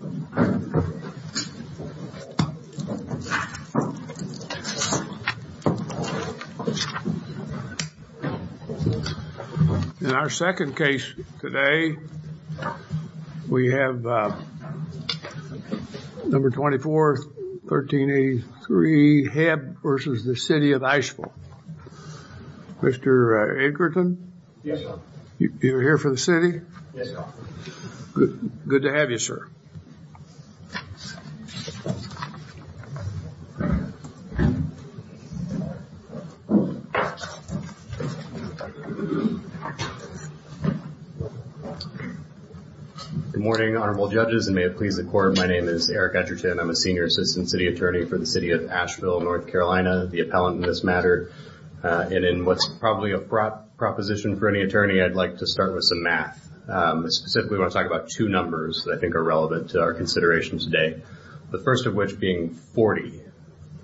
In our second case today, we have number 24, 1383, Hebb v. City of Asheville. Mr. Edgerton? Yes, sir. You're here for the city? Yes, sir. Good to have you, sir. Good morning, honorable judges, and may it please the court, my name is Eric Edgerton. I'm a senior assistant city attorney for the city of Asheville, North Carolina, the appellant in this matter. And in what's probably a proposition for any attorney, I'd like to start with some math. Specifically, I want to talk about two numbers that I think are relevant to our consideration today. The first of which being 40.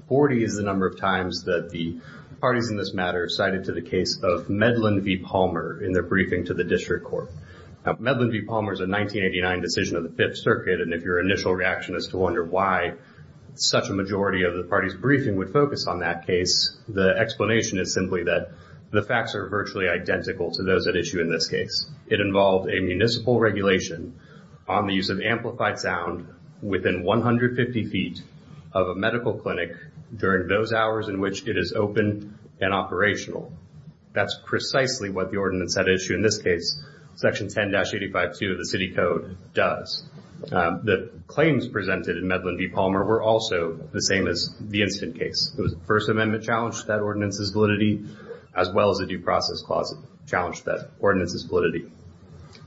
40 is the number of times that the parties in this matter cited to the case of Medlin v. Palmer in their briefing to the district court. Now, Medlin v. Palmer is a 1989 decision of the Fifth Circuit, and if your initial reaction is to wonder why such a majority of the party's briefing would focus on that case, the explanation is simply that the facts are virtually identical to those at issue in this case. It involved a municipal regulation on the use of amplified sound within 150 feet of a medical clinic during those hours in which it is open and operational. That's precisely what the ordinance at issue in this case, section 10-85-2 of the city code does. The claims presented in Medlin v. Palmer were also the same as the incident case. The First Amendment challenged that ordinance's validity, as well as a due process clause challenged that ordinance's validity.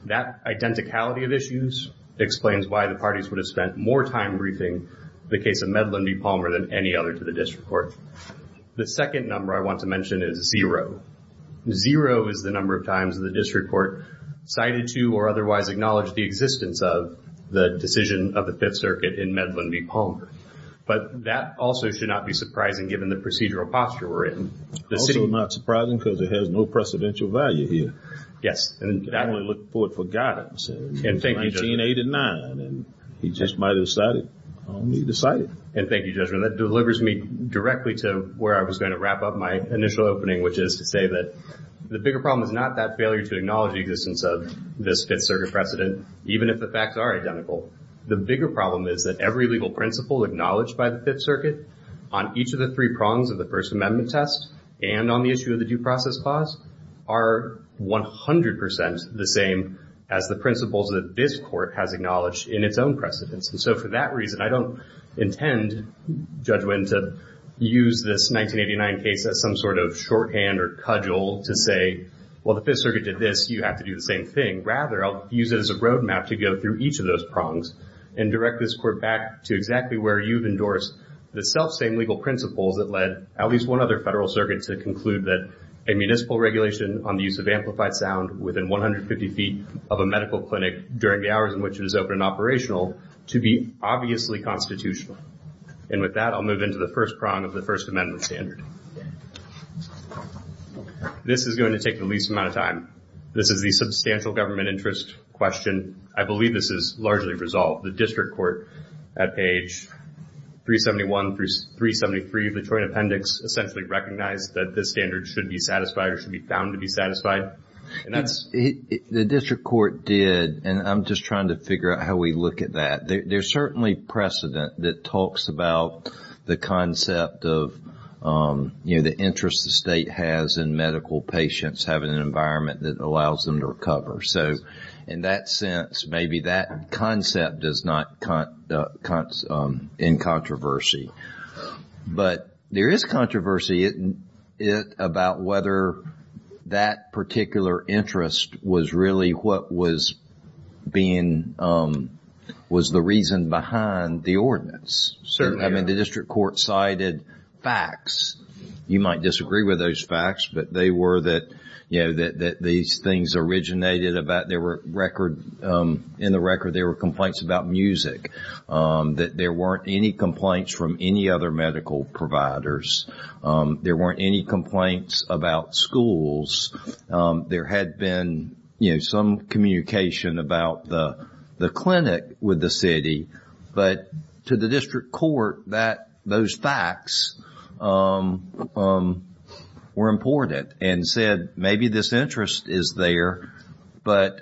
That identicality of issues explains why the parties would have spent more time briefing the case of Medlin v. Palmer than any other to the district court. The second number I want to mention is zero. Zero is the number of times the district court cited to or otherwise acknowledged the existence of the decision of the Fifth Circuit in Medlin v. Palmer. But that also should not be surprising given the procedural posture we're in. Also not surprising because it has no precedential value here. Yes, and I only look for it for God. And thank you, Judge. 1989, and he just might have decided, he decided. And thank you, Judge. That delivers me directly to where I was going to wrap up my initial opening, which is to say that the bigger problem is not that failure to acknowledge the existence of this Fifth Circuit precedent, even if the facts are identical. The bigger problem is that every legal principle acknowledged by the Fifth Circuit on each of the three prongs of the First Amendment test and on the issue of the due process clause are 100 percent the same as the principles that this court has acknowledged in its own precedents. And so for that reason, I don't intend, Judge Winn, to use this 1989 case as some sort of shorthand or cudgel to say, well, the Fifth Circuit did this, you have to do the same thing. Rather, I'll use it as a roadmap to go through each of those prongs and direct this court back to exactly where you've endorsed the self-same legal principles that led at least one other federal circuit to conclude that a municipal regulation on the use of amplified sound within 150 feet of a medical clinic during the hours in which it is open and operational to be obviously constitutional. And with that, I'll move into the first prong of the First Amendment standard. This is going to take the least amount of time. This is the substantial government interest question. I believe this is largely resolved. The district court at page 371 through 373 of the Joint Appendix essentially recognized that this standard should be satisfied or should be found to be satisfied. The district court did, and I'm just trying to figure out how we look at that. There's certainly precedent that talks about the concept of the interest the state has in medical patients having an environment that allows them to recover. So in that sense, maybe that concept is not in controversy. But there is controversy about whether that particular interest was really what was being, was the reason behind the ordinance. I mean, the district court cited facts. You might disagree with those facts, but they were that, you know, that these things originated about there were record, in the record, there were complaints about music, that there weren't any complaints from any other medical providers. There weren't any complaints about schools. There had been, you know, some communication about the clinic with the city. But to the district court, that, those facts were important and said maybe this interest is there, but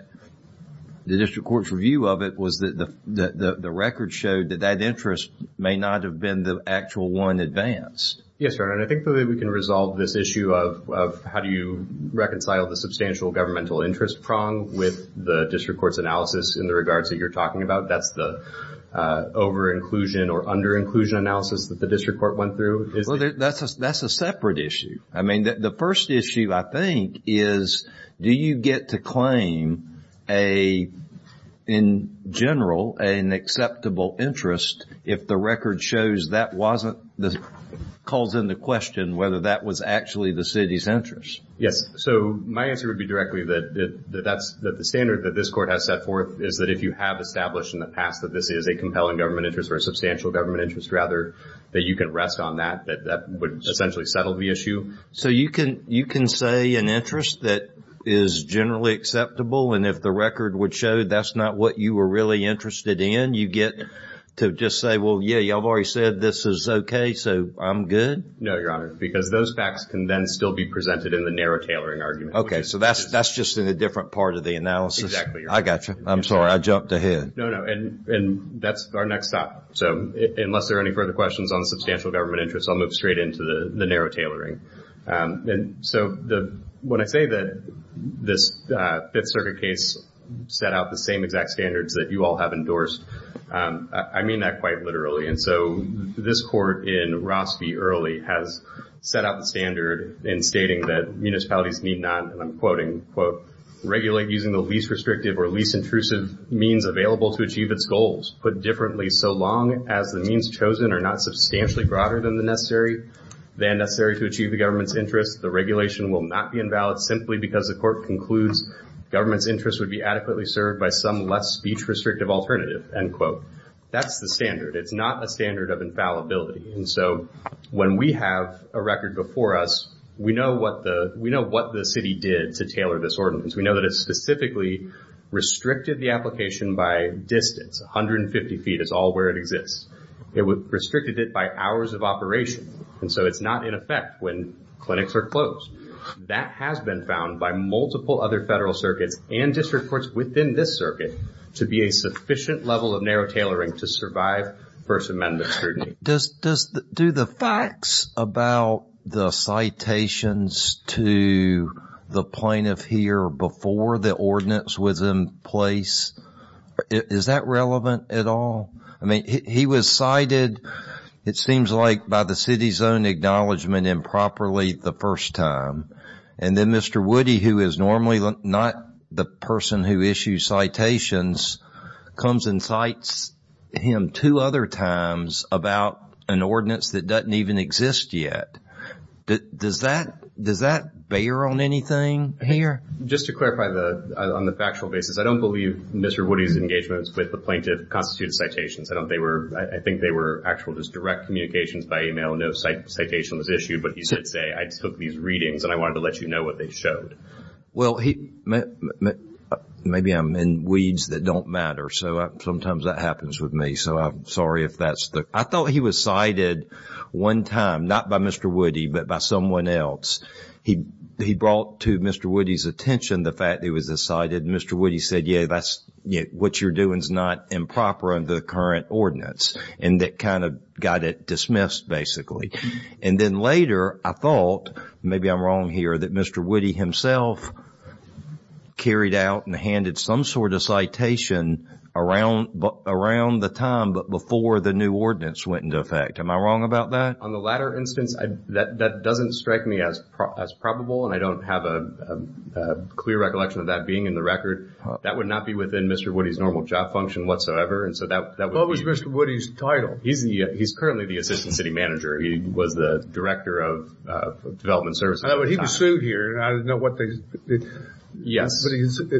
the district court's review of it was that the record showed that that interest may not have been the actual one advanced. Yes, Your Honor, and I think that we can resolve this issue of how do you reconcile the substantial governmental interest prong with the district court's analysis in the regards that you're talking about. That's the over-inclusion or under-inclusion analysis that the district court went through. That's a separate issue. I mean, the first issue, I think, is do you get to claim a, in general, an acceptable interest if the record shows that wasn't, calls into question whether that was actually the city's interest? Yes. So, my answer would be directly that that's the standard that this court has set forth is that if you have established in the past that this is a compelling government interest or a substantial government interest, rather, that you can rest on that, that that would essentially settle the issue. So you can, you can say an interest that is generally acceptable and if the record would show that's not what you were really interested in, you get to just say, well, yeah, y'all have already said this is okay, so I'm good? No, Your Honor, because those facts can then still be presented in the narrow tailoring argument. Okay, so that's, that's just in a different part of the analysis. Exactly, Your Honor. I gotcha. I'm sorry. I jumped ahead. No, no. And that's our next stop. So, unless there are any further questions on substantial government interest, I'll move straight into the narrow tailoring. And so, when I say that this Fifth Circuit case set out the same exact standards that you all have endorsed, I mean that quite literally. And so, this court in Ross v. Early has set out the standard in stating that municipalities need not, and I'm quoting, quote, regulate using the least restrictive or least intrusive means available to achieve its goals. Put differently, so long as the means chosen are not substantially broader than the necessary, than necessary to achieve the government's interest, the regulation will not be invalid simply because the court concludes government's interest would be adequately served by some less speech-restrictive alternative, end quote. That's the standard. It's not a standard of infallibility. And so, when we have a record before us, we know what the city did to tailor this ordinance. We know that it specifically restricted the application by distance. 150 feet is all where it exists. It restricted it by hours of operation. And so, it's not in effect when clinics are closed. That has been found by multiple other federal circuits and district courts within this circuit to be a sufficient level of narrow tailoring to survive First Amendment scrutiny. Do the facts about the citations to the plaintiff here before the ordinance was in place, is that relevant at all? I mean, he was cited, it seems like, by the city's own acknowledgement improperly the first time. And then Mr. Woody, who is normally not the person who issues citations, comes and cites him two other times about an ordinance that doesn't even exist yet. Does that bear on anything here? Just to clarify on the factual basis, I don't believe Mr. Woody's engagements with the plaintiff constituted citations. I think they were actual just direct communications by email. No citation was issued, but he did say, I took these readings and I wanted to let you know what they showed. Well, maybe I'm in weeds that don't matter. So sometimes that happens with me. So I'm sorry if that's the... I thought he was cited one time, not by Mr. Woody, but by someone else. He brought to Mr. Woody's attention the fact that he was cited and Mr. Woody said, yeah, what you're doing is not improper under the current ordinance. And that kind of got it dismissed, basically. And then later, I thought, maybe I'm wrong here, that Mr. Woody himself carried out and handed some sort of citation around the time, but before the new ordinance went into effect. Am I wrong about that? On the latter instance, that doesn't strike me as probable and I don't have a clear recollection of that being in the record. That would not be within Mr. Woody's normal job function whatsoever. And so that... What was Mr. Woody's title? He's currently the Assistant City Manager. He was the Director of Development Services at the time. He was sued here. I don't know what they... Yes. But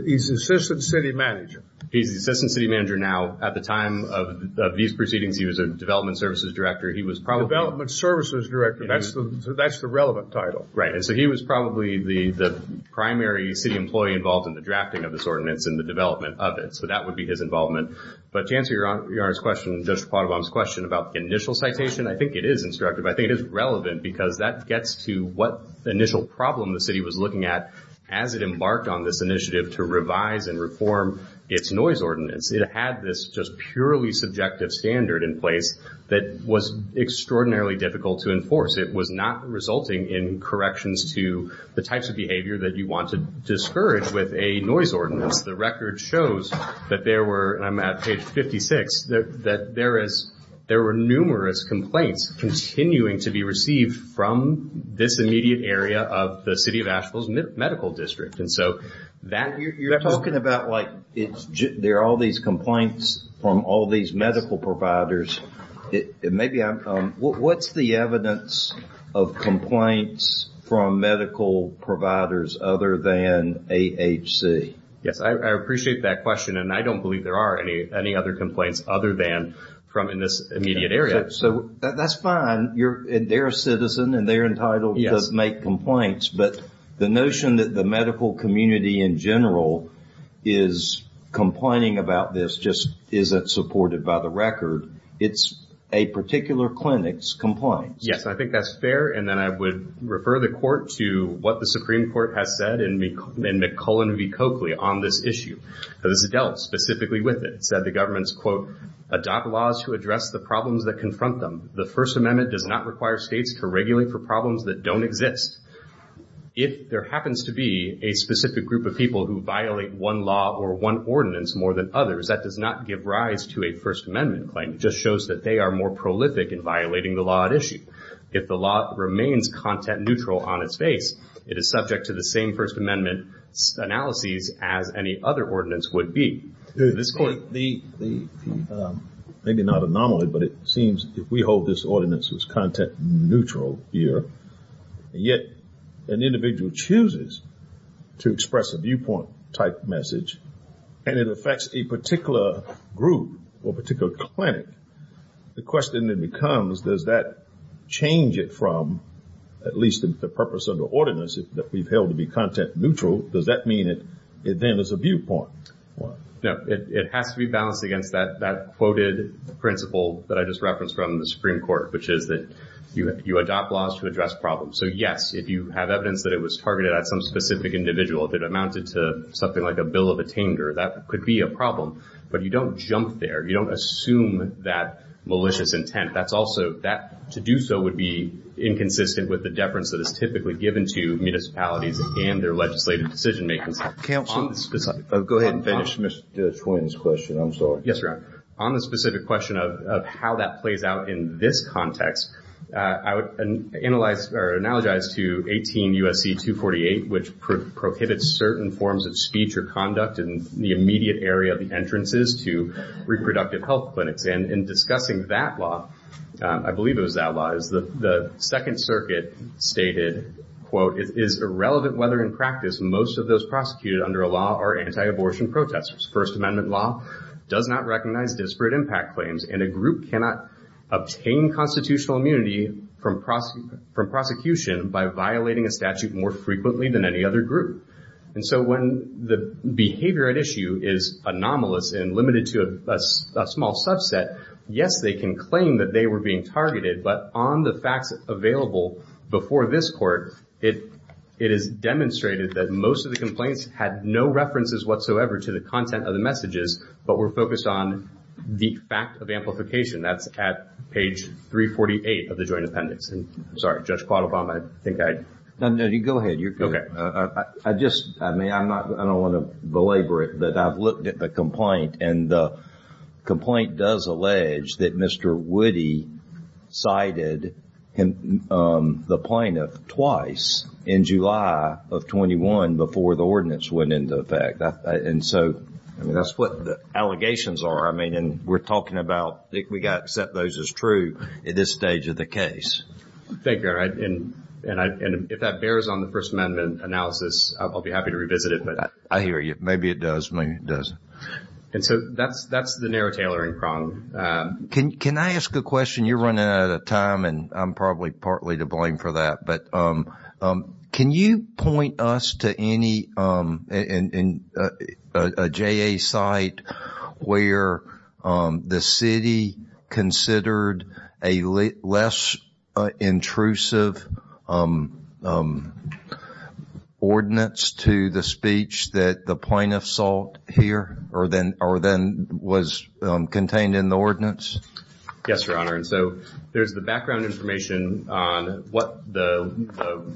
he's the Assistant City Manager. He's the Assistant City Manager now. At the time of these proceedings, he was a Development Services Director. He was probably... Development Services Director. That's the relevant title. Right. And so he was probably the primary city employee involved in the drafting of this ordinance and the development of it. So that would be his involvement. But to answer Your Honor's question, Judge Pottabom's question about the initial citation, I think it is instructive. I think it is relevant because that gets to what initial problem the city was looking at as it embarked on this initiative to revise and reform its noise ordinance. It had this just purely subjective standard in place that was extraordinarily difficult to enforce. It was not resulting in corrections to the types of behavior that you want to discourage with a noise ordinance. The record shows that there were, and I'm at page 56, that there were numerous complaints continuing to be received from this immediate area of the City of Asheville's Medical District. And so that... You're talking about like there are all these complaints from all these medical providers. What's the evidence of complaints from medical providers other than AHC? Yes. I appreciate that question, and I don't believe there are any other complaints other than from in this immediate area. So that's fine. They're a citizen, and they're entitled to make complaints, but the notion that the medical community in general is complaining about this just isn't supported by the record. It's a particular clinic's complaints. Yes. I think that's fair. And then I would refer the Court to what the Supreme Court has said in McCullen v. Coakley on this issue, because it dealt specifically with it. It said the government's, quote, adopt laws to address the problems that confront them. The First Amendment does not require states to regulate for problems that don't exist. If there happens to be a specific group of people who violate one law or one ordinance more than others, that does not give rise to a First Amendment claim. It just shows that they are more prolific in violating the law at issue. If the law remains content neutral on its face, it is subject to the same First Amendment analyses as any other ordinance would be. To this point, the... Maybe not anomaly, but it seems if we hold this ordinance as content neutral here, yet an individual chooses to express a viewpoint-type message, and it affects a particular group or particular clinic, the question then becomes, does that change it from, at least the purpose of the ordinance that we've held to be content neutral, does that mean it then is a viewpoint? No. It has to be balanced against that quoted principle that I just referenced from the Supreme Court, which is that you adopt laws to address problems. So yes, if you have evidence that it was targeted at some specific individual, if it amounted to something like a bill of attainder, that could be a problem. But you don't jump there. You don't assume that malicious intent. That's also... To do so would be inconsistent with the deference that is typically given to municipalities and their legislative decision-making. Go ahead and finish Mr. Twain's question. I'm sorry. Yes, Your Honor. On the specific question of how that plays out in this context, I would analyze or analogize to 18 U.S.C. 248, which prohibits certain forms of speech or conduct in the immediate area of the entrances to reproductive health clinics. In discussing that law, I believe it was that law, the Second Circuit stated, quote, it is irrelevant whether in practice most of those prosecuted under a law are anti-abortion protesters. First Amendment law does not recognize disparate impact claims, and a group cannot obtain constitutional immunity from prosecution by violating a statute more frequently than any other group. And so when the behavior at issue is anomalous and limited to a small subset, yes, they can claim that they were being targeted. But on the facts available before this Court, it is demonstrated that most of the complaints had no references whatsoever to the content of the messages, but were focused on the fact of amplification. That's at page 348 of the Joint Appendix. I'm sorry. Judge Quaddabom, I think I... No, no. You go ahead. I just, I mean, I'm not, I don't want to belabor it, but I've looked at the complaint and the complaint does allege that Mr. Woody cited the plaintiff twice in July of 21 before the ordinance went into effect. And so, I mean, that's what the allegations are. I mean, and we're talking about, we got to accept those as true at this stage of the case. Thank you. I'm sorry. And if that bears on the First Amendment analysis, I'll be happy to revisit it, but... I hear you. Maybe it does. Maybe it doesn't. And so, that's the narrow tailoring prong. Can I ask a question? You're running out of time, and I'm probably partly to blame for that, but can you point us to any, a JA site where the city considered a less intrusive ordinance to the speech that the plaintiff sought here, or then was contained in the ordinance? Yes, Your Honor, and so there's the background information on what the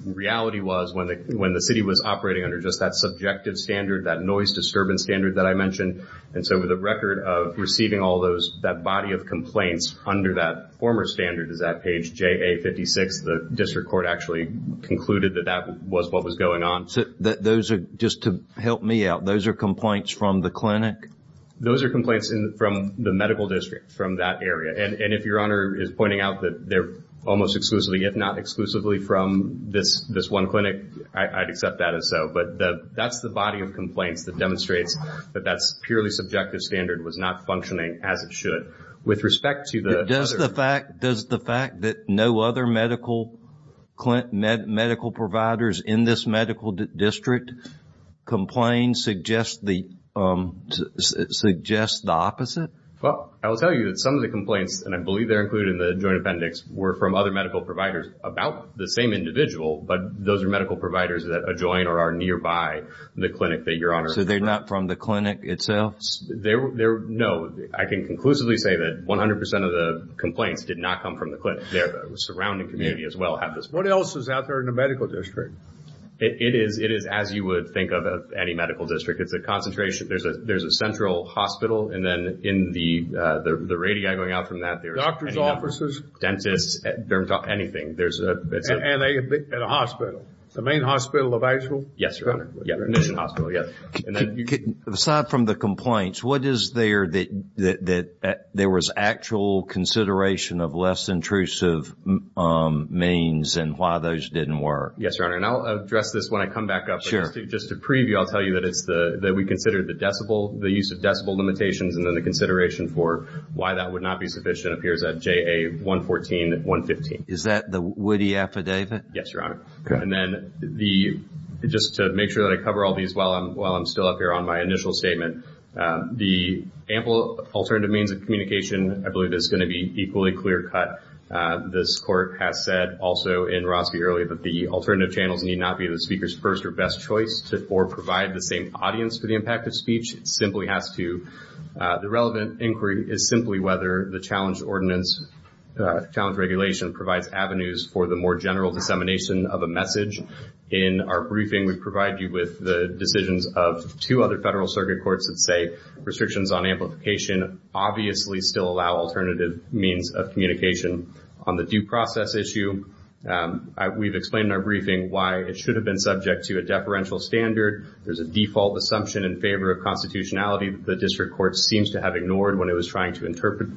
reality was when the city was operating under just that subjective standard, that noise disturbance standard that I mentioned. And so, with the record of receiving all those, that body of complaints under that former standard is at page JA-56, the district court actually concluded that that was what was going on. So, those are, just to help me out, those are complaints from the clinic? Those are complaints from the medical district from that area, and if Your Honor is pointing out that they're almost exclusively, if not exclusively, from this one clinic, I'd accept that as so. But that's the body of complaints that demonstrates that that's purely subjective standard was not functioning as it should. With respect to the other... Does the fact that no other medical providers in this medical district complain suggest the opposite? Well, I will tell you that some of the complaints, and I believe they're included in the Joint Appendix, were from other medical providers about the same individual, but those are medical providers that adjoin or are nearby the clinic that Your Honor... So, they're not from the clinic itself? No. I can conclusively say that 100% of the complaints did not come from the clinic. Their surrounding community, as well, have this... What else is out there in the medical district? It is as you would think of any medical district. It's a concentration. There's a central hospital, and then in the radii going out from that, there's... Nurses? Dentists? Anything. There's... And a hospital. The main hospital of Asheville? Yes, Your Honor. Mission Hospital. Yes. And then... Aside from the complaints, what is there that there was actual consideration of less intrusive means and why those didn't work? Yes, Your Honor. And I'll address this when I come back up. Just to preview, I'll tell you that it's the... That we considered the decibel, the use of decibel limitations, and then the consideration for why that would not be sufficient appears at JA 114, 115. Is that the Woody affidavit? Yes, Your Honor. Okay. And then the... Just to make sure that I cover all these while I'm still up here on my initial statement, the ample alternative means of communication, I believe, is going to be equally clear-cut. This court has said also in Roski earlier that the alternative channels need not be the speaker's first or best choice or provide the same audience for the impact of speech. It simply has to... The relevant inquiry is simply whether the challenge ordinance, challenge regulation provides avenues for the more general dissemination of a message. In our briefing, we provide you with the decisions of two other federal circuit courts that say restrictions on amplification obviously still allow alternative means of communication. On the due process issue, we've explained in our briefing why it should have been subject to a deferential standard. There's a default assumption in favor of constitutionality that the district court seems to have ignored when it was trying to interpret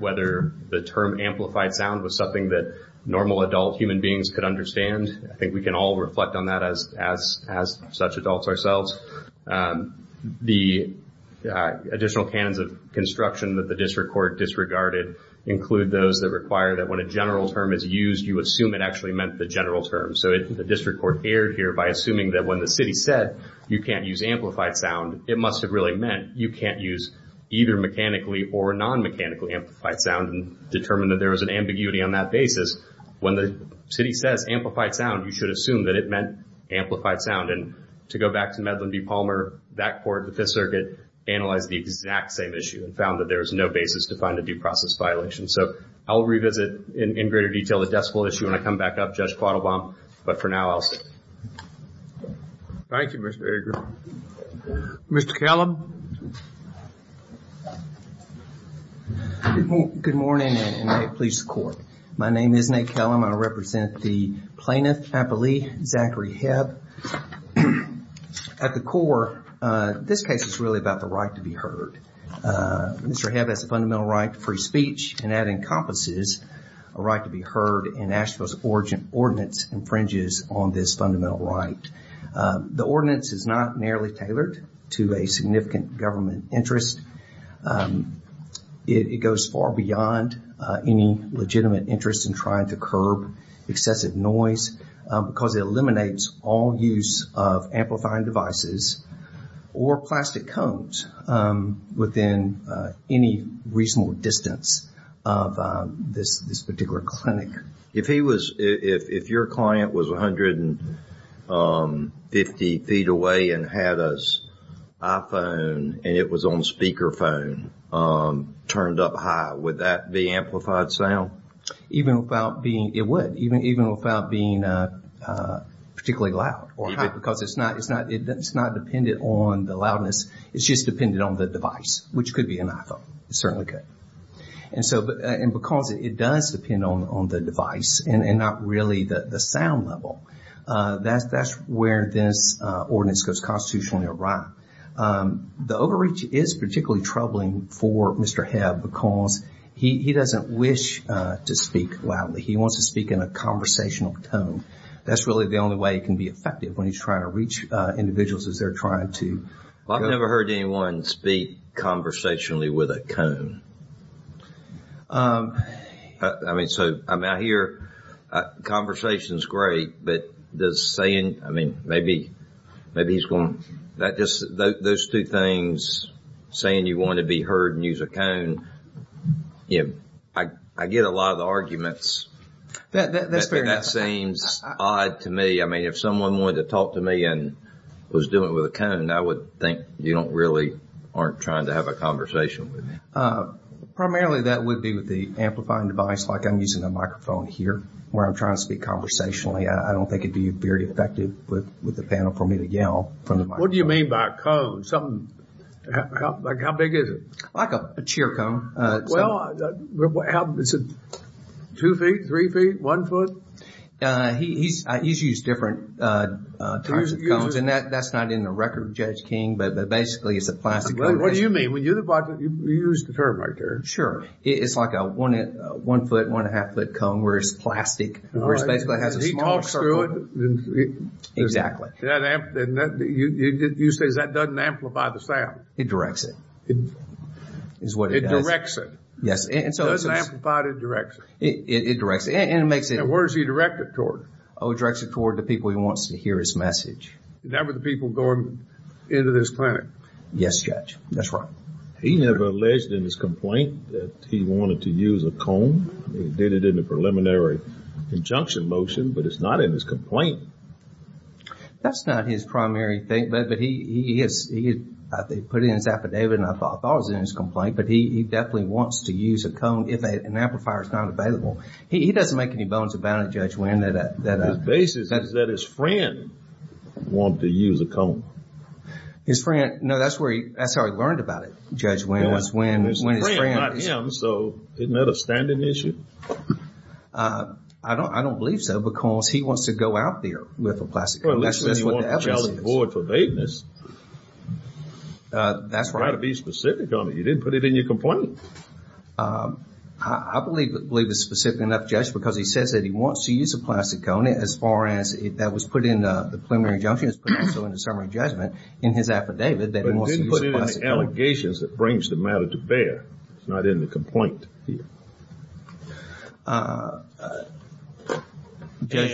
whether the term amplified sound was something that normal adult human beings could understand. I think we can all reflect on that as such adults ourselves. The additional canons of construction that the district court disregarded include those that require that when a general term is used, you assume it actually meant the general term. The district court erred here by assuming that when the city said you can't use amplified sound, it must have really meant you can't use either mechanically or non-mechanically amplified sound and determined that there was an ambiguity on that basis. When the city says amplified sound, you should assume that it meant amplified sound. To go back to Medlin v. Palmer, that court, the Fifth Circuit, analyzed the exact same issue and found that there was no basis to find a due process violation. I'll revisit in greater detail the decibel issue when I come back up, Judge Quattlebaum, but for now I'll stop. Thank you, Mr. Ager. Mr. Kellum. Good morning, and may it please the court. My name is Nate Kellum. I represent the plaintiff, I believe, Zachary Hebb. At the core, this case is really about the right to be heard. Mr. Hebb has a fundamental right to free speech, and that encompasses a right to be heard, and Asheville's ordinance infringes on this fundamental right. The ordinance is not narrowly tailored to a significant government interest. It goes far beyond any legitimate interest in trying to curb excessive noise because it eliminates all use of amplifying devices or plastic cones within any reasonable distance of this particular clinic. If he was, if your client was 150 feet away and had his iPhone and it was on speakerphone turned up high, would that be amplified sound? Even without being, it would. Even without being particularly loud or high because it's not dependent on the loudness. It's just dependent on the device, which could be an iPhone. It certainly could. And so, and because it does depend on the device and not really the sound level, that's where this ordinance goes constitutionally awry. The overreach is particularly troubling for Mr. Hebb because he doesn't wish to speak loudly. He wants to speak in a conversational tone. That's really the only way he can be effective when he's trying to reach individuals as they're trying to. Well, I've never heard anyone speak conversationally with a cone. I mean, so, I mean, I hear conversations great, but does saying, I mean, maybe, maybe he's going, that just, those two things, saying you want to be heard and use a cone, yeah, I get a lot of the arguments. That seems odd to me. I mean, if someone wanted to talk to me and was doing it with a cone, I would think you don't really, aren't trying to have a conversation with him. Primarily that would be with the amplifying device. Like I'm using a microphone here where I'm trying to speak conversationally. I don't think it'd be very effective with the panel for me to yell from the microphone. What do you mean by a cone? Something, like how big is it? Like a cheer cone. Well, it's two feet, three feet, one foot? He's used different types of cones and that's not in the record, Judge King, but basically it's a plastic cone. What do you mean? You used the term right there. Sure. It's like a one foot, one and a half foot cone where it's plastic. Where it basically has a small circle. You say that doesn't amplify the sound. It directs it. Is what it does. It directs it. Yes. It doesn't amplify it, it directs it. It directs it. And it makes it... And where does he direct it toward? Oh, it directs it toward the people he wants to hear his message. And that were the people going into this clinic? Yes, Judge. That's right. He never alleged in his complaint that he wanted to use a cone. He did it in a preliminary injunction motion, but it's not in his complaint. That's not his primary thing, but he has put it in his affidavit and I thought it was in his complaint. But he definitely wants to use a cone if an amplifier is not available. He doesn't make any bones about it, Judge Winn. The basis is that his friend wanted to use a cone. His friend? No, that's where he... That's how he learned about it, Judge Winn. When his friend... So, isn't that a standing issue? I don't believe so because he wants to go out there with a plastic cone. That's what the evidence is. Well, at least when you want the child to avoid forbadeness. That's right. You try to be specific on it. You didn't put it in your complaint. I believe it's specific enough, Judge, because he says that he wants to use a plastic cone as far as that was put in the preliminary injunction, it's put also in the summary judgment in his affidavit that he wants to use a plastic cone. But then you put it in the allegations that brings the matter to bear. It's not in the complaint. Judge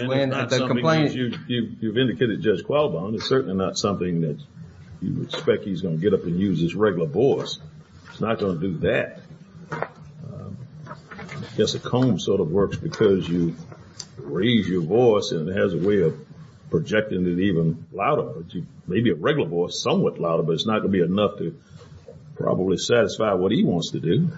Winn, the complaint... And it's not something that you've indicated to Judge Qualbon. It's certainly not something that you would expect he's going to get up and use his regular voice. He's not going to do that. I guess a cone sort of works because you raise your voice and it has a way of projecting it even louder. Maybe a regular voice, somewhat louder, but it's not going to be enough to probably satisfy what he wants to do.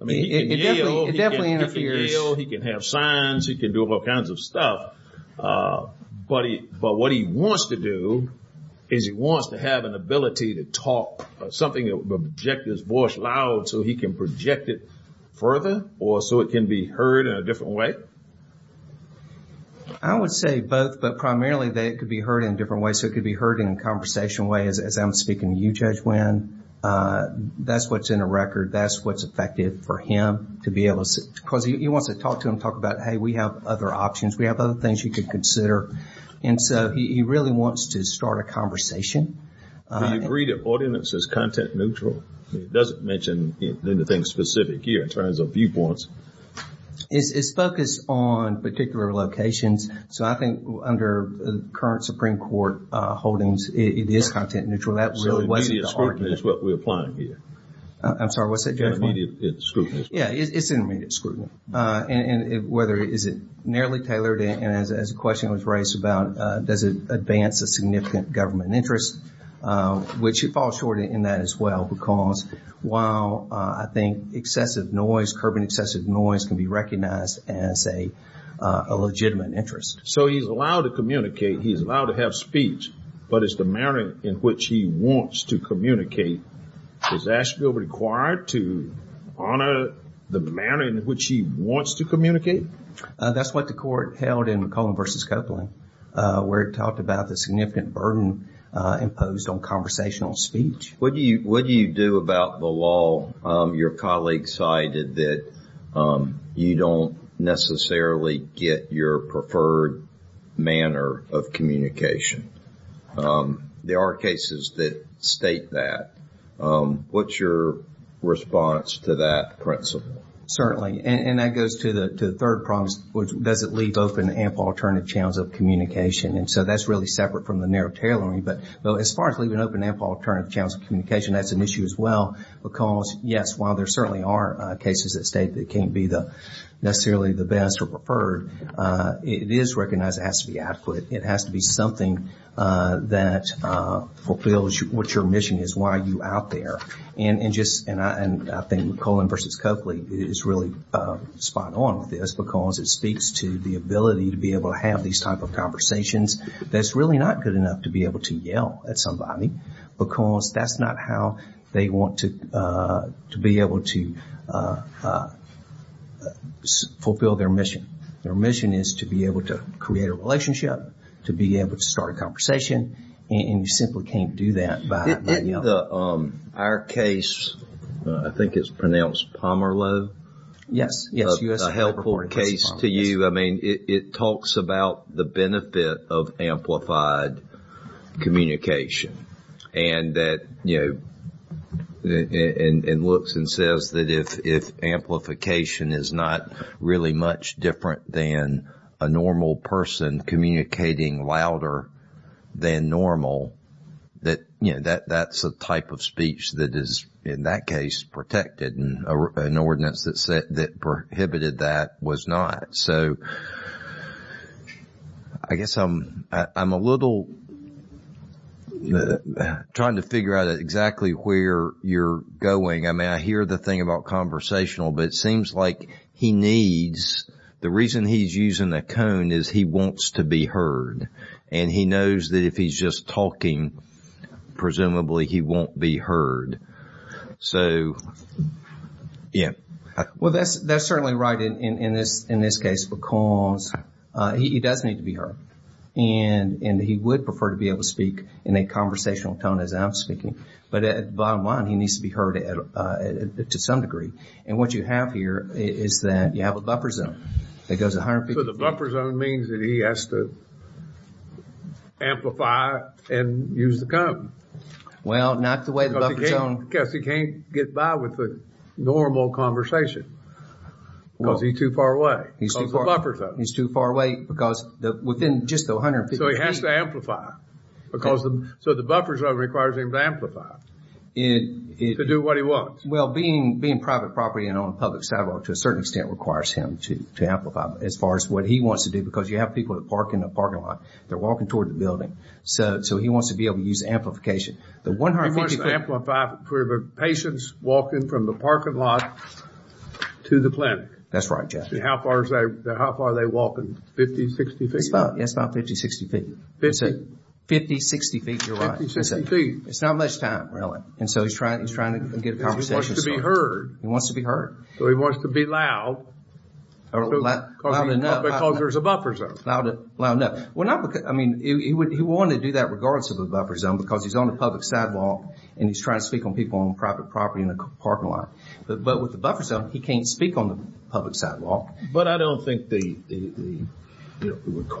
I mean, he can yell. It definitely interferes. He can yell. He can have signs. He can do all kinds of stuff. But what he wants to do is he wants to have an ability to talk, something that projects his voice loud so he can project it further or so it can be heard in a different way. I would say both, but primarily that it could be heard in a different way. So it could be heard in a conversation way as I'm speaking to you, Judge Winn. That's what's in a record. That's what's effective for him to be able to... Because he wants to talk to him, talk about, hey, we have other options. We have other things you could consider. And so he really wants to start a conversation. Do you agree that ordinance is content neutral? It doesn't mention anything specific here in terms of viewpoints. It's focused on particular locations. So I think under current Supreme Court holdings, it is content neutral. That really wasn't the argument. So immediate scrutiny is what we're applying here. I'm sorry, what's that, Judge Winn? Immediate scrutiny. Yeah, it's immediate scrutiny. And whether is it narrowly tailored, and as a question was raised about, does it advance a significant government interest, which it falls short in that as well, because while I think excessive noise, curbing excessive noise can be recognized as a legitimate interest. So he's allowed to communicate, he's allowed to have speech, but it's the manner in which he wants to communicate. Is Asheville required to honor the manner in which he wants to communicate? That's what the court held in McClellan v. Copeland, where it talked about the significant burden imposed on conversational speech. What do you do about the law? Your colleague cited that you don't necessarily get your preferred manner of communication. There are cases that state that. What's your response to that principle? Certainly. And that goes to the third problem, which is does it leave open ample alternative channels of communication? And so that's really separate from the narrow tailoring. But as far as leaving open ample alternative channels of communication, that's an issue as well, because yes, while there certainly are cases that state that it can't be necessarily the best or preferred, it is recognized it has to be adequate. It has to be something that fulfills what your mission is, why are you out there? And I think McClellan v. Copeland is really spot on with this, because it speaks to the ability to be able to have these type of conversations that's really not good enough to be able to yell at somebody, because that's not how they want to be able to fulfill their mission. Their mission is to be able to create a relationship, to be able to start a conversation, and you simply can't do that by yelling. Our case, I think it's pronounced Pomerleau? Yes. A helpful case to you. It talks about the benefit of amplified communication and looks and says that if amplification is not really much different than a normal person communicating louder than normal, that's a type of speech that is, in that case, protected, and an ordinance that prohibited that was not. So I guess I'm a little trying to figure out exactly where you're going. I hear the thing about conversational, but it seems like he needs, the reason he's using the cone is he wants to be heard, and he knows that if he's just talking, presumably he won't be heard. So, yeah. Well, that's certainly right in this case, because he does need to be heard, and he would prefer to be able to speak in a conversational tone as I'm speaking. But at the bottom line, he needs to be heard to some degree. And what you have here is that you have a buffer zone that goes to 150 feet. So the buffer zone means that he has to amplify and use the cone. Well, not the way the buffer zone... Because he can't get by with the normal conversation, because he's too far away. He's too far away because within just the 150 feet. So he has to amplify. So the buffer zone requires him to amplify to do what he wants. Well, being private property and on a public sidewalk, to a certain extent requires him to amplify as far as what he wants to do, because you have people that park in the parking lot. They're walking toward the building. So he wants to be able to use amplification. The 150 feet... He wants to amplify for the patients walking from the parking lot to the clinic. That's right, Jeff. How far are they walking? 50, 60 feet? That's about 50, 60 feet. 50? 50, 60 feet. You're right. 50, 60 feet. It's not much time, really. And so he's trying to get a conversation... He wants to be heard. He wants to be heard. So he wants to be loud. Loud enough. Because there's a buffer zone. Loud enough. Well, not because... I mean, he wanted to do that regardless of the buffer zone, because he's on a public sidewalk, and he's trying to speak on people on private property in the parking lot. But with the buffer zone, he can't speak on the public sidewalk. But I don't think the... You know,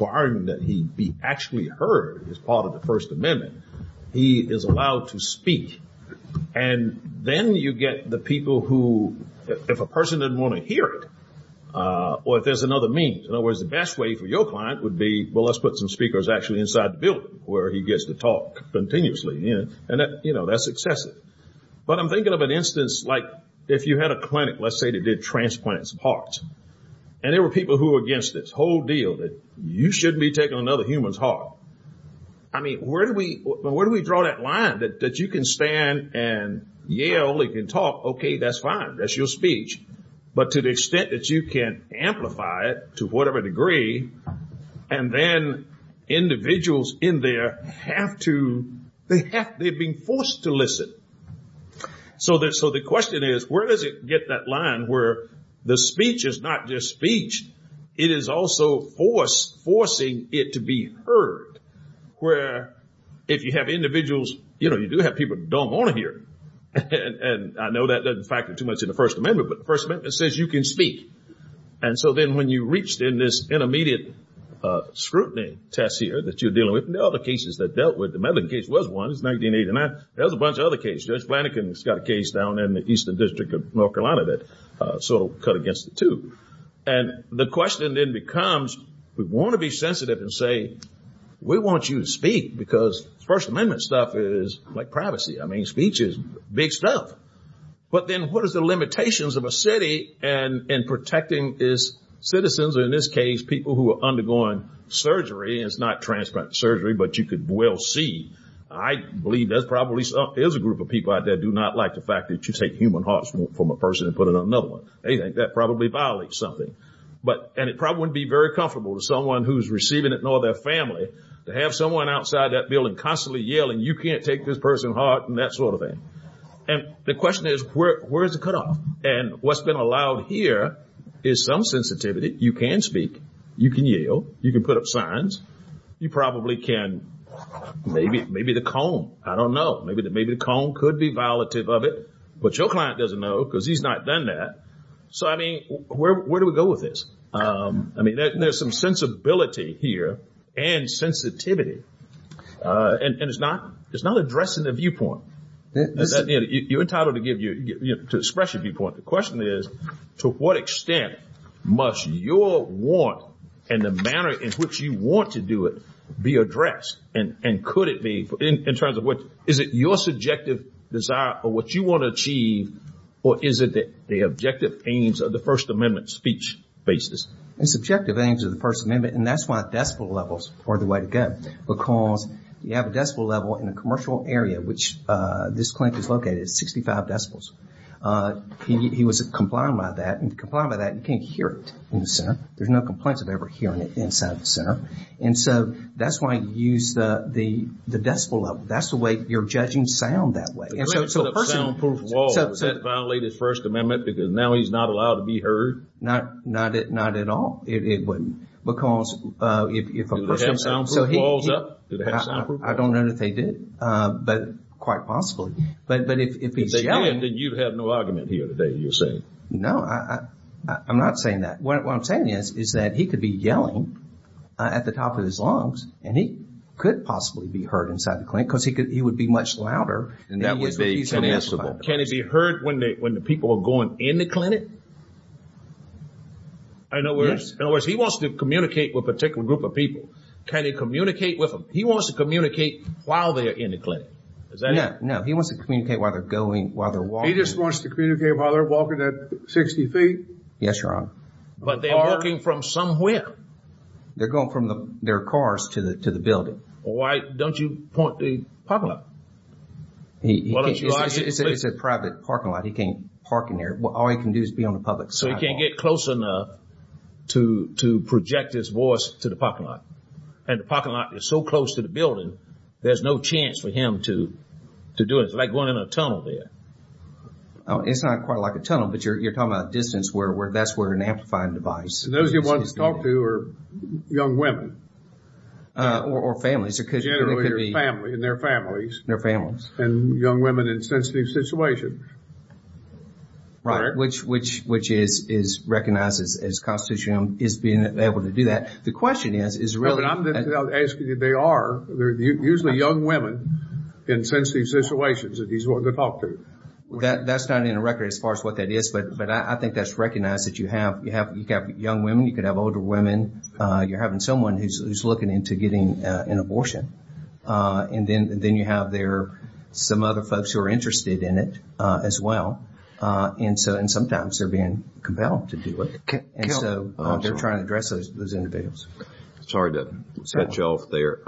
it would cause a lot of trouble. But I'm thinking of an instance, like, if you had a clinic, let's say, that did transplants of hearts. And there were people who were against this whole deal that you shouldn't be taking another human's heart. I mean, where do we draw that line, that you can stand and yell, you can talk, okay, that's fine. That's your speech. But to the extent that you can amplify it to whatever degree, and then individuals in there have to... They have... They're being forced to listen. So the question is, where does it get that line where the speech is not just speech, it is also forcing it to be heard? Where if you have individuals... You know, you do have people who don't want to hear. And I know that doesn't factor too much into the First Amendment, but the First Amendment says you can speak. And so then when you reached in this intermediate scrutiny test here that you're dealing with, and there are other cases that dealt with... The Medellin case was one. It was 1989. There was a bunch of other cases. Judge Flanagan's got a case down in the Eastern District of North Carolina that sort of cut against the two. And the question then becomes, we want to be sensitive and say, we want you to speak because First Amendment stuff is like privacy. I mean, speech is big stuff. But then what is the limitations of a city in protecting its citizens, or in this case, people who are undergoing surgery? And it's not transplant surgery, but you could well see. I believe there probably is a group of people out there that do not like the fact that you take human hearts from a person and put it on another one. They think that probably violates something. And it probably wouldn't be very comfortable to someone who's receiving it, nor their family, to have someone outside that building constantly yelling, you can't take this person's heart, and that sort of thing. And the question is, where is the cutoff? And what's been allowed here is some sensitivity. You can speak. You can yell. You can put up signs. You probably can. Maybe the comb. I don't know. Maybe the comb could be violative of it. But your client doesn't know because he's not done that. So, I mean, where do we go with this? I mean, there's some sensibility here and sensitivity. And it's not addressing the viewpoint. You're entitled to express your viewpoint. The question is, to what extent must your want and the manner in which you want to do it be addressed? And could it be, in terms of what, is it your subjective desire or what you want to achieve, or is it the objective aims of the First Amendment speech basis? It's objective aims of the First Amendment, and that's why decibel levels are the way to go. Because you have a decibel level in a commercial area, which this clinic is located at, 65 decibels. He was complying by that. And if you're complying by that, you can't hear it in the center. There's no complaints of ever hearing it inside the center. And so that's why you use the decibel level. That's the way you're judging sound that way. If a person puts up soundproof walls, does that violate his First Amendment because now he's not allowed to be heard? Not at all. It wouldn't. Do they have soundproof walls up? I don't know that they do, but quite possibly. But if he's yelling, then you have no argument here today, you're saying. No, I'm not saying that. What I'm saying is, is that he could be yelling at the top of his lungs, and he could possibly be heard inside the clinic because he would be much louder. Can it be heard when the people are going in the clinic? In other words, he wants to communicate with a particular group of people. Can he communicate with them? He wants to communicate while they're in the clinic. No, he wants to communicate while they're walking. He just wants to communicate while they're walking at 60 feet? Yes, Your Honor. But they're walking from somewhere. They're going from their cars to the building. Why don't you point the parking lot? It's a private parking lot. He can't park in there. All he can do is be on the public side. So he can't get close enough to project his voice to the parking lot. And the parking lot is so close to the building, there's no chance for him to do it. It's like going in a tunnel there. It's not quite like a tunnel, but you're talking about a distance. That's where an amplifying device is. Those you want to talk to are young women. Or families. Generally, they're family, and they're families. They're families. And young women in sensitive situations. Right, which is recognized as constitutional, is being able to do that. The question is, is really. No, but I'm asking you, they are. They're usually young women in sensitive situations that he's willing to talk to. That's not in the record as far as what that is. But I think that's recognized that you have young women. You could have older women. You're having someone who's looking into getting an abortion. And then you have there some other folks who are interested in it as well. And sometimes they're being compelled to do it. And so they're trying to address those individuals. Sorry to cut you off there.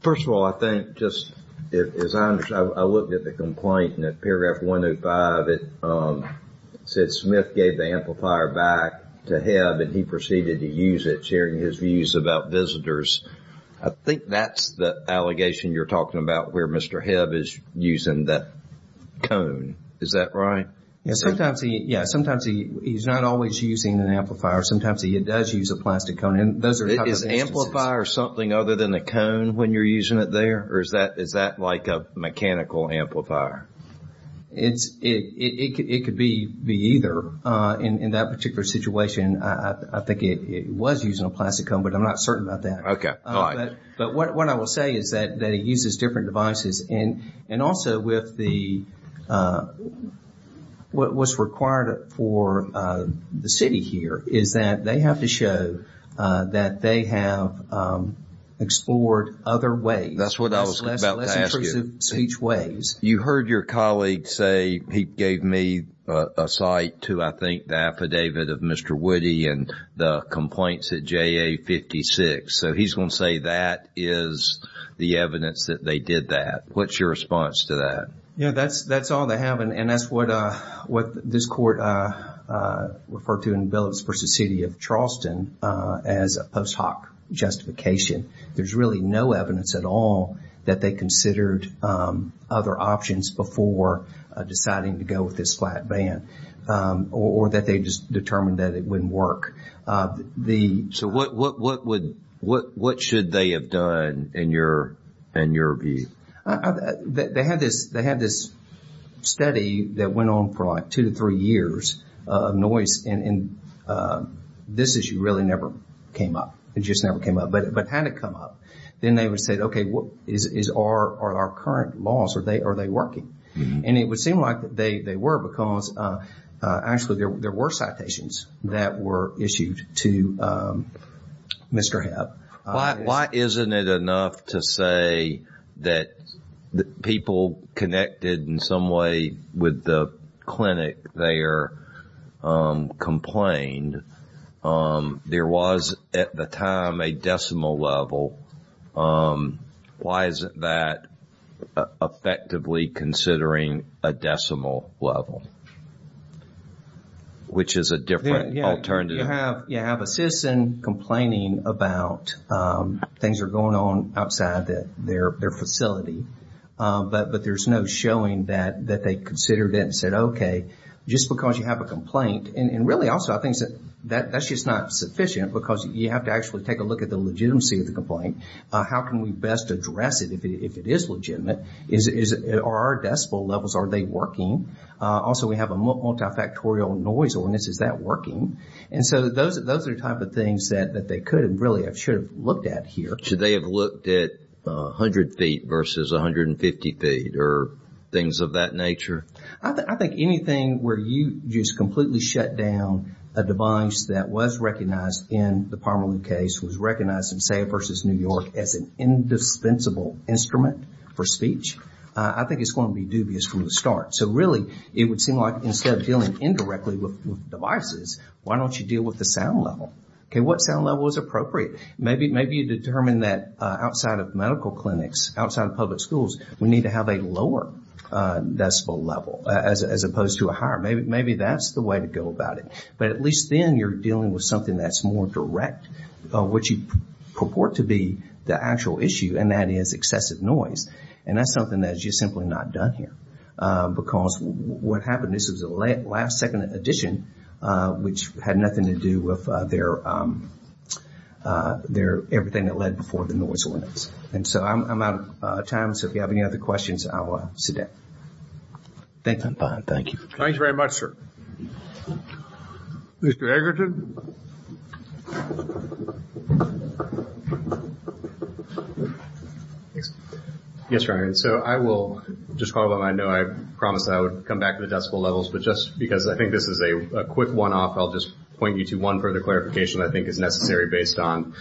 First of all, I think just, as I understand, I looked at the complaint in paragraph 105. It said Smith gave the amplifier back to Hebb, and he proceeded to use it, sharing his views about visitors. I think that's the allegation you're talking about where Mr. Hebb is using that cone. Is that right? Yeah. Sometimes he's not always using an amplifier. Sometimes he does use a plastic cone. Is amplifier something other than a cone when you're using it there? Or is that like a mechanical amplifier? It could be either. In that particular situation, I think it was using a plastic cone, but I'm not certain about that. Okay. All right. But what I will say is that he uses different devices. And also with the, what was required for the city here, is that they have to show that they have explored other ways. That's what I was about to ask you. Less intrusive speech ways. You heard your colleague say he gave me a cite to, I think, the affidavit of Mr. Woody and the complaints at JA-56. So he's going to say that is the evidence that they did that. What's your response to that? Yeah, that's all they have. And that's what this court referred to in Billups v. City of Charleston as a post hoc justification. There's really no evidence at all that they considered other options before deciding to go with this flat band or that they just determined that it wouldn't work. So what should they have done in your view? They had this study that went on for like two to three years of noise, and this issue really never came up. It just never came up. But had it come up, then they would say, okay, are our current laws, are they working? And it would seem like they were because actually there were citations that were issued to Mr. Hebb. Why isn't it enough to say that people connected in some way with the clinic there complained? There was at the time a decimal level. Why isn't that effectively considering a decimal level, which is a different alternative? You have a citizen complaining about things that are going on outside their facility, but there's no showing that they considered it and said, okay, just because you have a complaint. And really also I think that's just not sufficient because you have to actually take a look at the legitimacy of the complaint. How can we best address it if it is legitimate? Are our decimal levels, are they working? Also, we have a multifactorial noise on this. Is that working? And so those are the type of things that they could and really should have looked at here. Should they have looked at 100 feet versus 150 feet or things of that nature? I think anything where you just completely shut down a device that was recognized in the Pomerleau case, was recognized in, say, versus New York as an indispensable instrument for speech, I think it's going to be dubious from the start. So really it would seem like instead of dealing indirectly with devices, why don't you deal with the sound level? What sound level is appropriate? Maybe you determine that outside of medical clinics, outside of public schools, we need to have a lower decibel level as opposed to a higher. Maybe that's the way to go about it. But at least then you're dealing with something that's more direct, which you purport to be the actual issue, and that is excessive noise. And that's something that's just simply not done here. Because what happened, this was the last second edition, which had nothing to do with everything that led before the noise ordinance. And so I'm out of time. So if you have any other questions, I will sit down. Thank you. Thank you very much, sir. Mr. Egerton. Yes, Your Honor, so I will just follow up. I know I promised I would come back to the decibel levels. But just because I think this is a quick one-off, I'll just point you to one further clarification that I think is necessary based on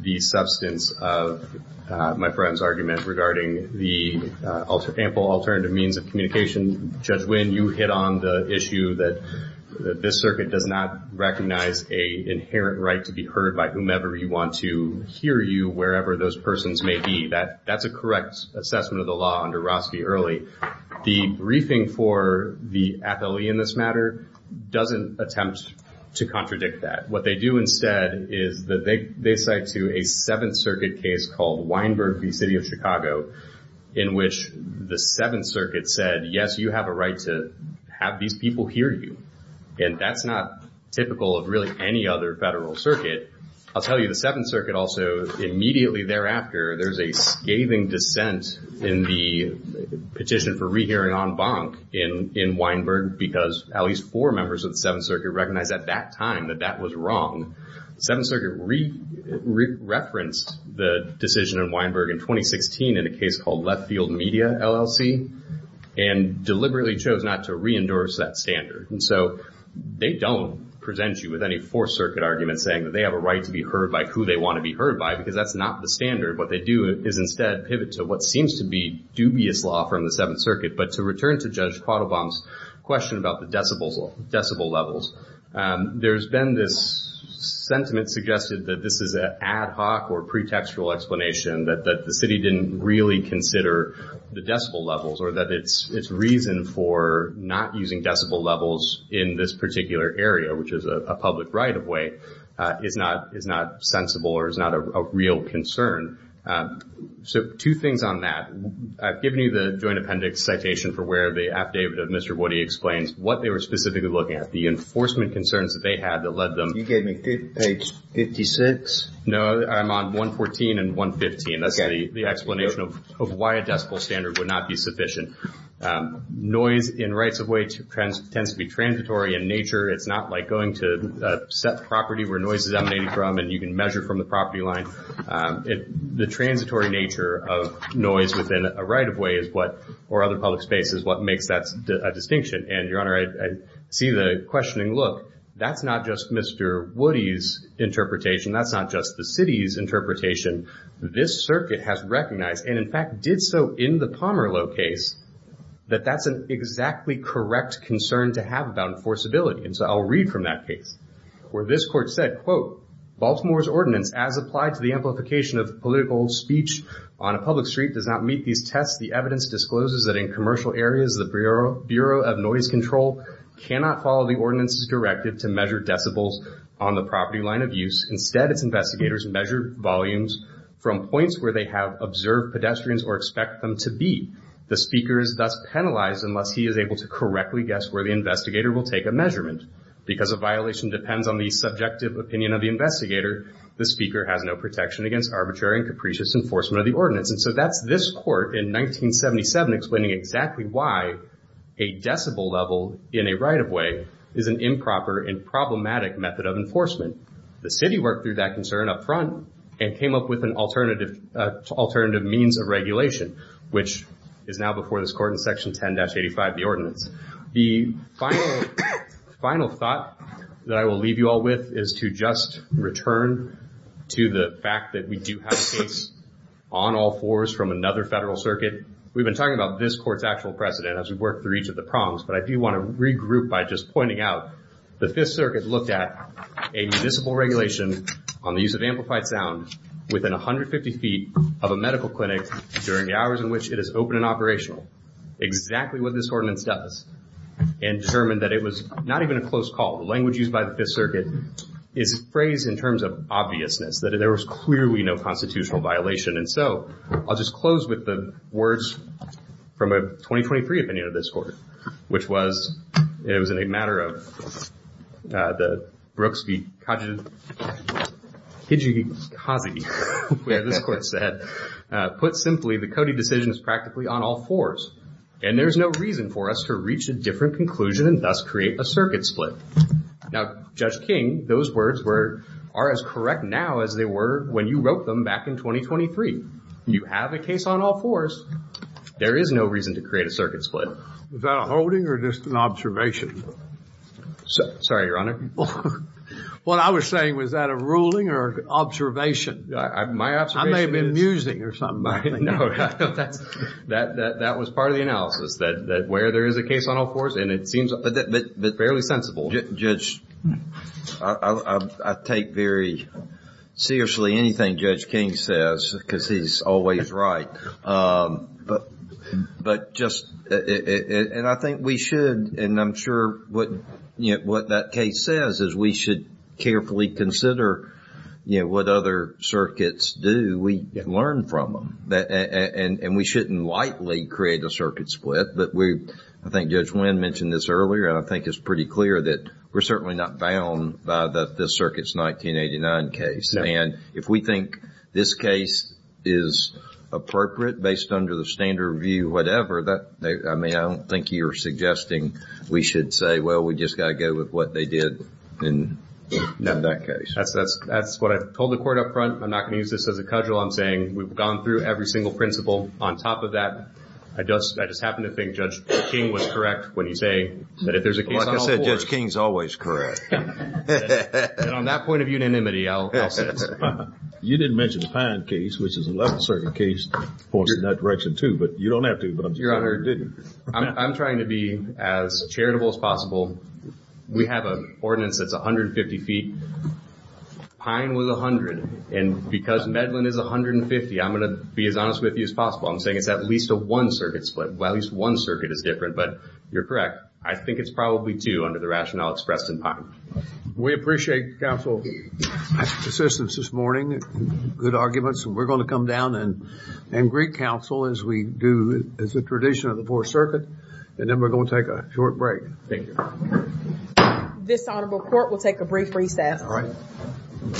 the substance of my friend's argument regarding the ample alternative means of communication. Judge Winn, you hit on the issue that this circuit does not recognize an inherent right to be heard by whomever you want to hear you, wherever those persons may be. That's a correct assessment of the law under Roski early. The briefing for the athlete in this matter doesn't attempt to contradict that. What they do instead is they cite to a Seventh Circuit case called Weinberg v. City of Chicago, in which the Seventh Circuit said, yes, you have a right to have these people hear you. And that's not typical of really any other federal circuit. I'll tell you, the Seventh Circuit also immediately thereafter, there's a scathing dissent in the petition for rehearing en banc in Weinberg because at least four members of the Seventh Circuit recognized at that time that that was wrong. The Seventh Circuit re-referenced the decision in Weinberg in 2016 in a case called Left Field Media, LLC, and deliberately chose not to re-endorse that standard. And so they don't present you with any Fourth Circuit argument saying that they have a right to be heard by who they want to be heard by because that's not the standard. What they do is instead pivot to what seems to be dubious law from the Seventh Circuit. But to return to Judge Quattlebaum's question about the decibel levels, there's been this sentiment suggested that this is an ad hoc or pretextual explanation that the city didn't really consider the decibel levels or that its reason for not using decibel levels in this particular area, which is a public right-of-way, is not sensible or is not a real concern. So two things on that. I've given you the joint appendix citation for where the affidavit of Mr. Woody explains what they were specifically looking at, the enforcement concerns that they had that led them. You gave me page 56? No, I'm on 114 and 115. That's the explanation of why a decibel standard would not be sufficient. Noise in rights-of-way tends to be transitory in nature. It's not like going to set the property where noise is emanating from and you can measure from the property line. The transitory nature of noise within a right-of-way or other public space is what makes that a distinction. And, Your Honor, I see the questioning. Look, that's not just Mr. Woody's interpretation. That's not just the city's interpretation. This circuit has recognized and, in fact, did so in the Palmer low case that that's an exactly correct concern to have about enforceability. And so I'll read from that case where this court said, quote, Baltimore's ordinance as applied to the amplification of political speech on a public street does not meet these tests. The evidence discloses that in commercial areas, the Bureau of Noise Control cannot follow the ordinance's directive to measure decibels on the property line of use. Instead, its investigators measure volumes from points where they have observed pedestrians or expect them to be. The speaker is thus penalized unless he is able to correctly guess where the investigator will take a measurement. Because a violation depends on the subjective opinion of the investigator, the speaker has no protection against arbitrary and capricious enforcement of the ordinance. And so that's this court in 1977 explaining exactly why a decibel level in a right-of-way is an improper and problematic method of enforcement. The city worked through that concern up front and came up with an alternative means of regulation, which is now before this court in Section 10-85, the ordinance. The final thought that I will leave you all with is to just return to the fact that we do have a case on all fours from another federal circuit. We've been talking about this court's actual precedent as we've worked through each of the prongs, but I do want to regroup by just pointing out that the Fifth Circuit looked at a municipal regulation on the use of amplified sound within 150 feet of a medical clinic during the hours in which it is open and operational, exactly what this ordinance does, and determined that it was not even a close call. The language used by the Fifth Circuit is phrased in terms of obviousness, that there was clearly no constitutional violation. And so I'll just close with the words from a 2023 opinion of this court, which was, it was in a matter of the Brooks v. Kaji, Kaji, where this court said, put simply, the Cody decision is practically on all fours, and there's no reason for us to reach a different conclusion and thus create a circuit split. Now, Judge King, those words were, are as correct now as they were when you wrote them back in 2023. You have a case on all fours. There is no reason to create a circuit split. Was that a holding or just an observation? Sorry, Your Honor. What I was saying, was that a ruling or an observation? I may have been musing or something. That was part of the analysis, that where there is a case on all fours, and it seems fairly sensible. Judge, I take very seriously anything Judge King says, because he's always right. But just, and I think we should, and I'm sure what, you know, what that case says is we should carefully consider, you know, what other circuits do. We learn from them. And we shouldn't lightly create a circuit split, but we, I think Judge Wynn mentioned this earlier, and I think it's pretty clear that we're certainly not bound by this circuit's 1989 case. And if we think this case is appropriate based under the standard review, whatever, I mean, I don't think you're suggesting we should say, well, we just got to go with what they did in that case. That's what I told the court up front. I'm not going to use this as a cudgel. I'm saying we've gone through every single principle on top of that. I just happen to think Judge King was correct when he say that if there's a case on all fours. Like I said, Judge King's always correct. And on that point of unanimity, I'll say it. You didn't mention the Pine case, which is a level circuit case, points in that direction too, but you don't have to. Your Honor, I'm trying to be as charitable as possible. We have an ordinance that's 150 feet. Pine was 100, and because Medlin is 150, I'm going to be as honest with you as possible. I'm saying it's at least a one circuit split. Well, at least one circuit is different, but you're correct. I think it's probably two under the rationale expressed in Pine. We appreciate counsel's assistance this morning. Good arguments. We're going to come down and greet counsel as we do as a tradition of the Fourth Circuit, and then we're going to take a short break. Thank you. This honorable court will take a brief recess. All right.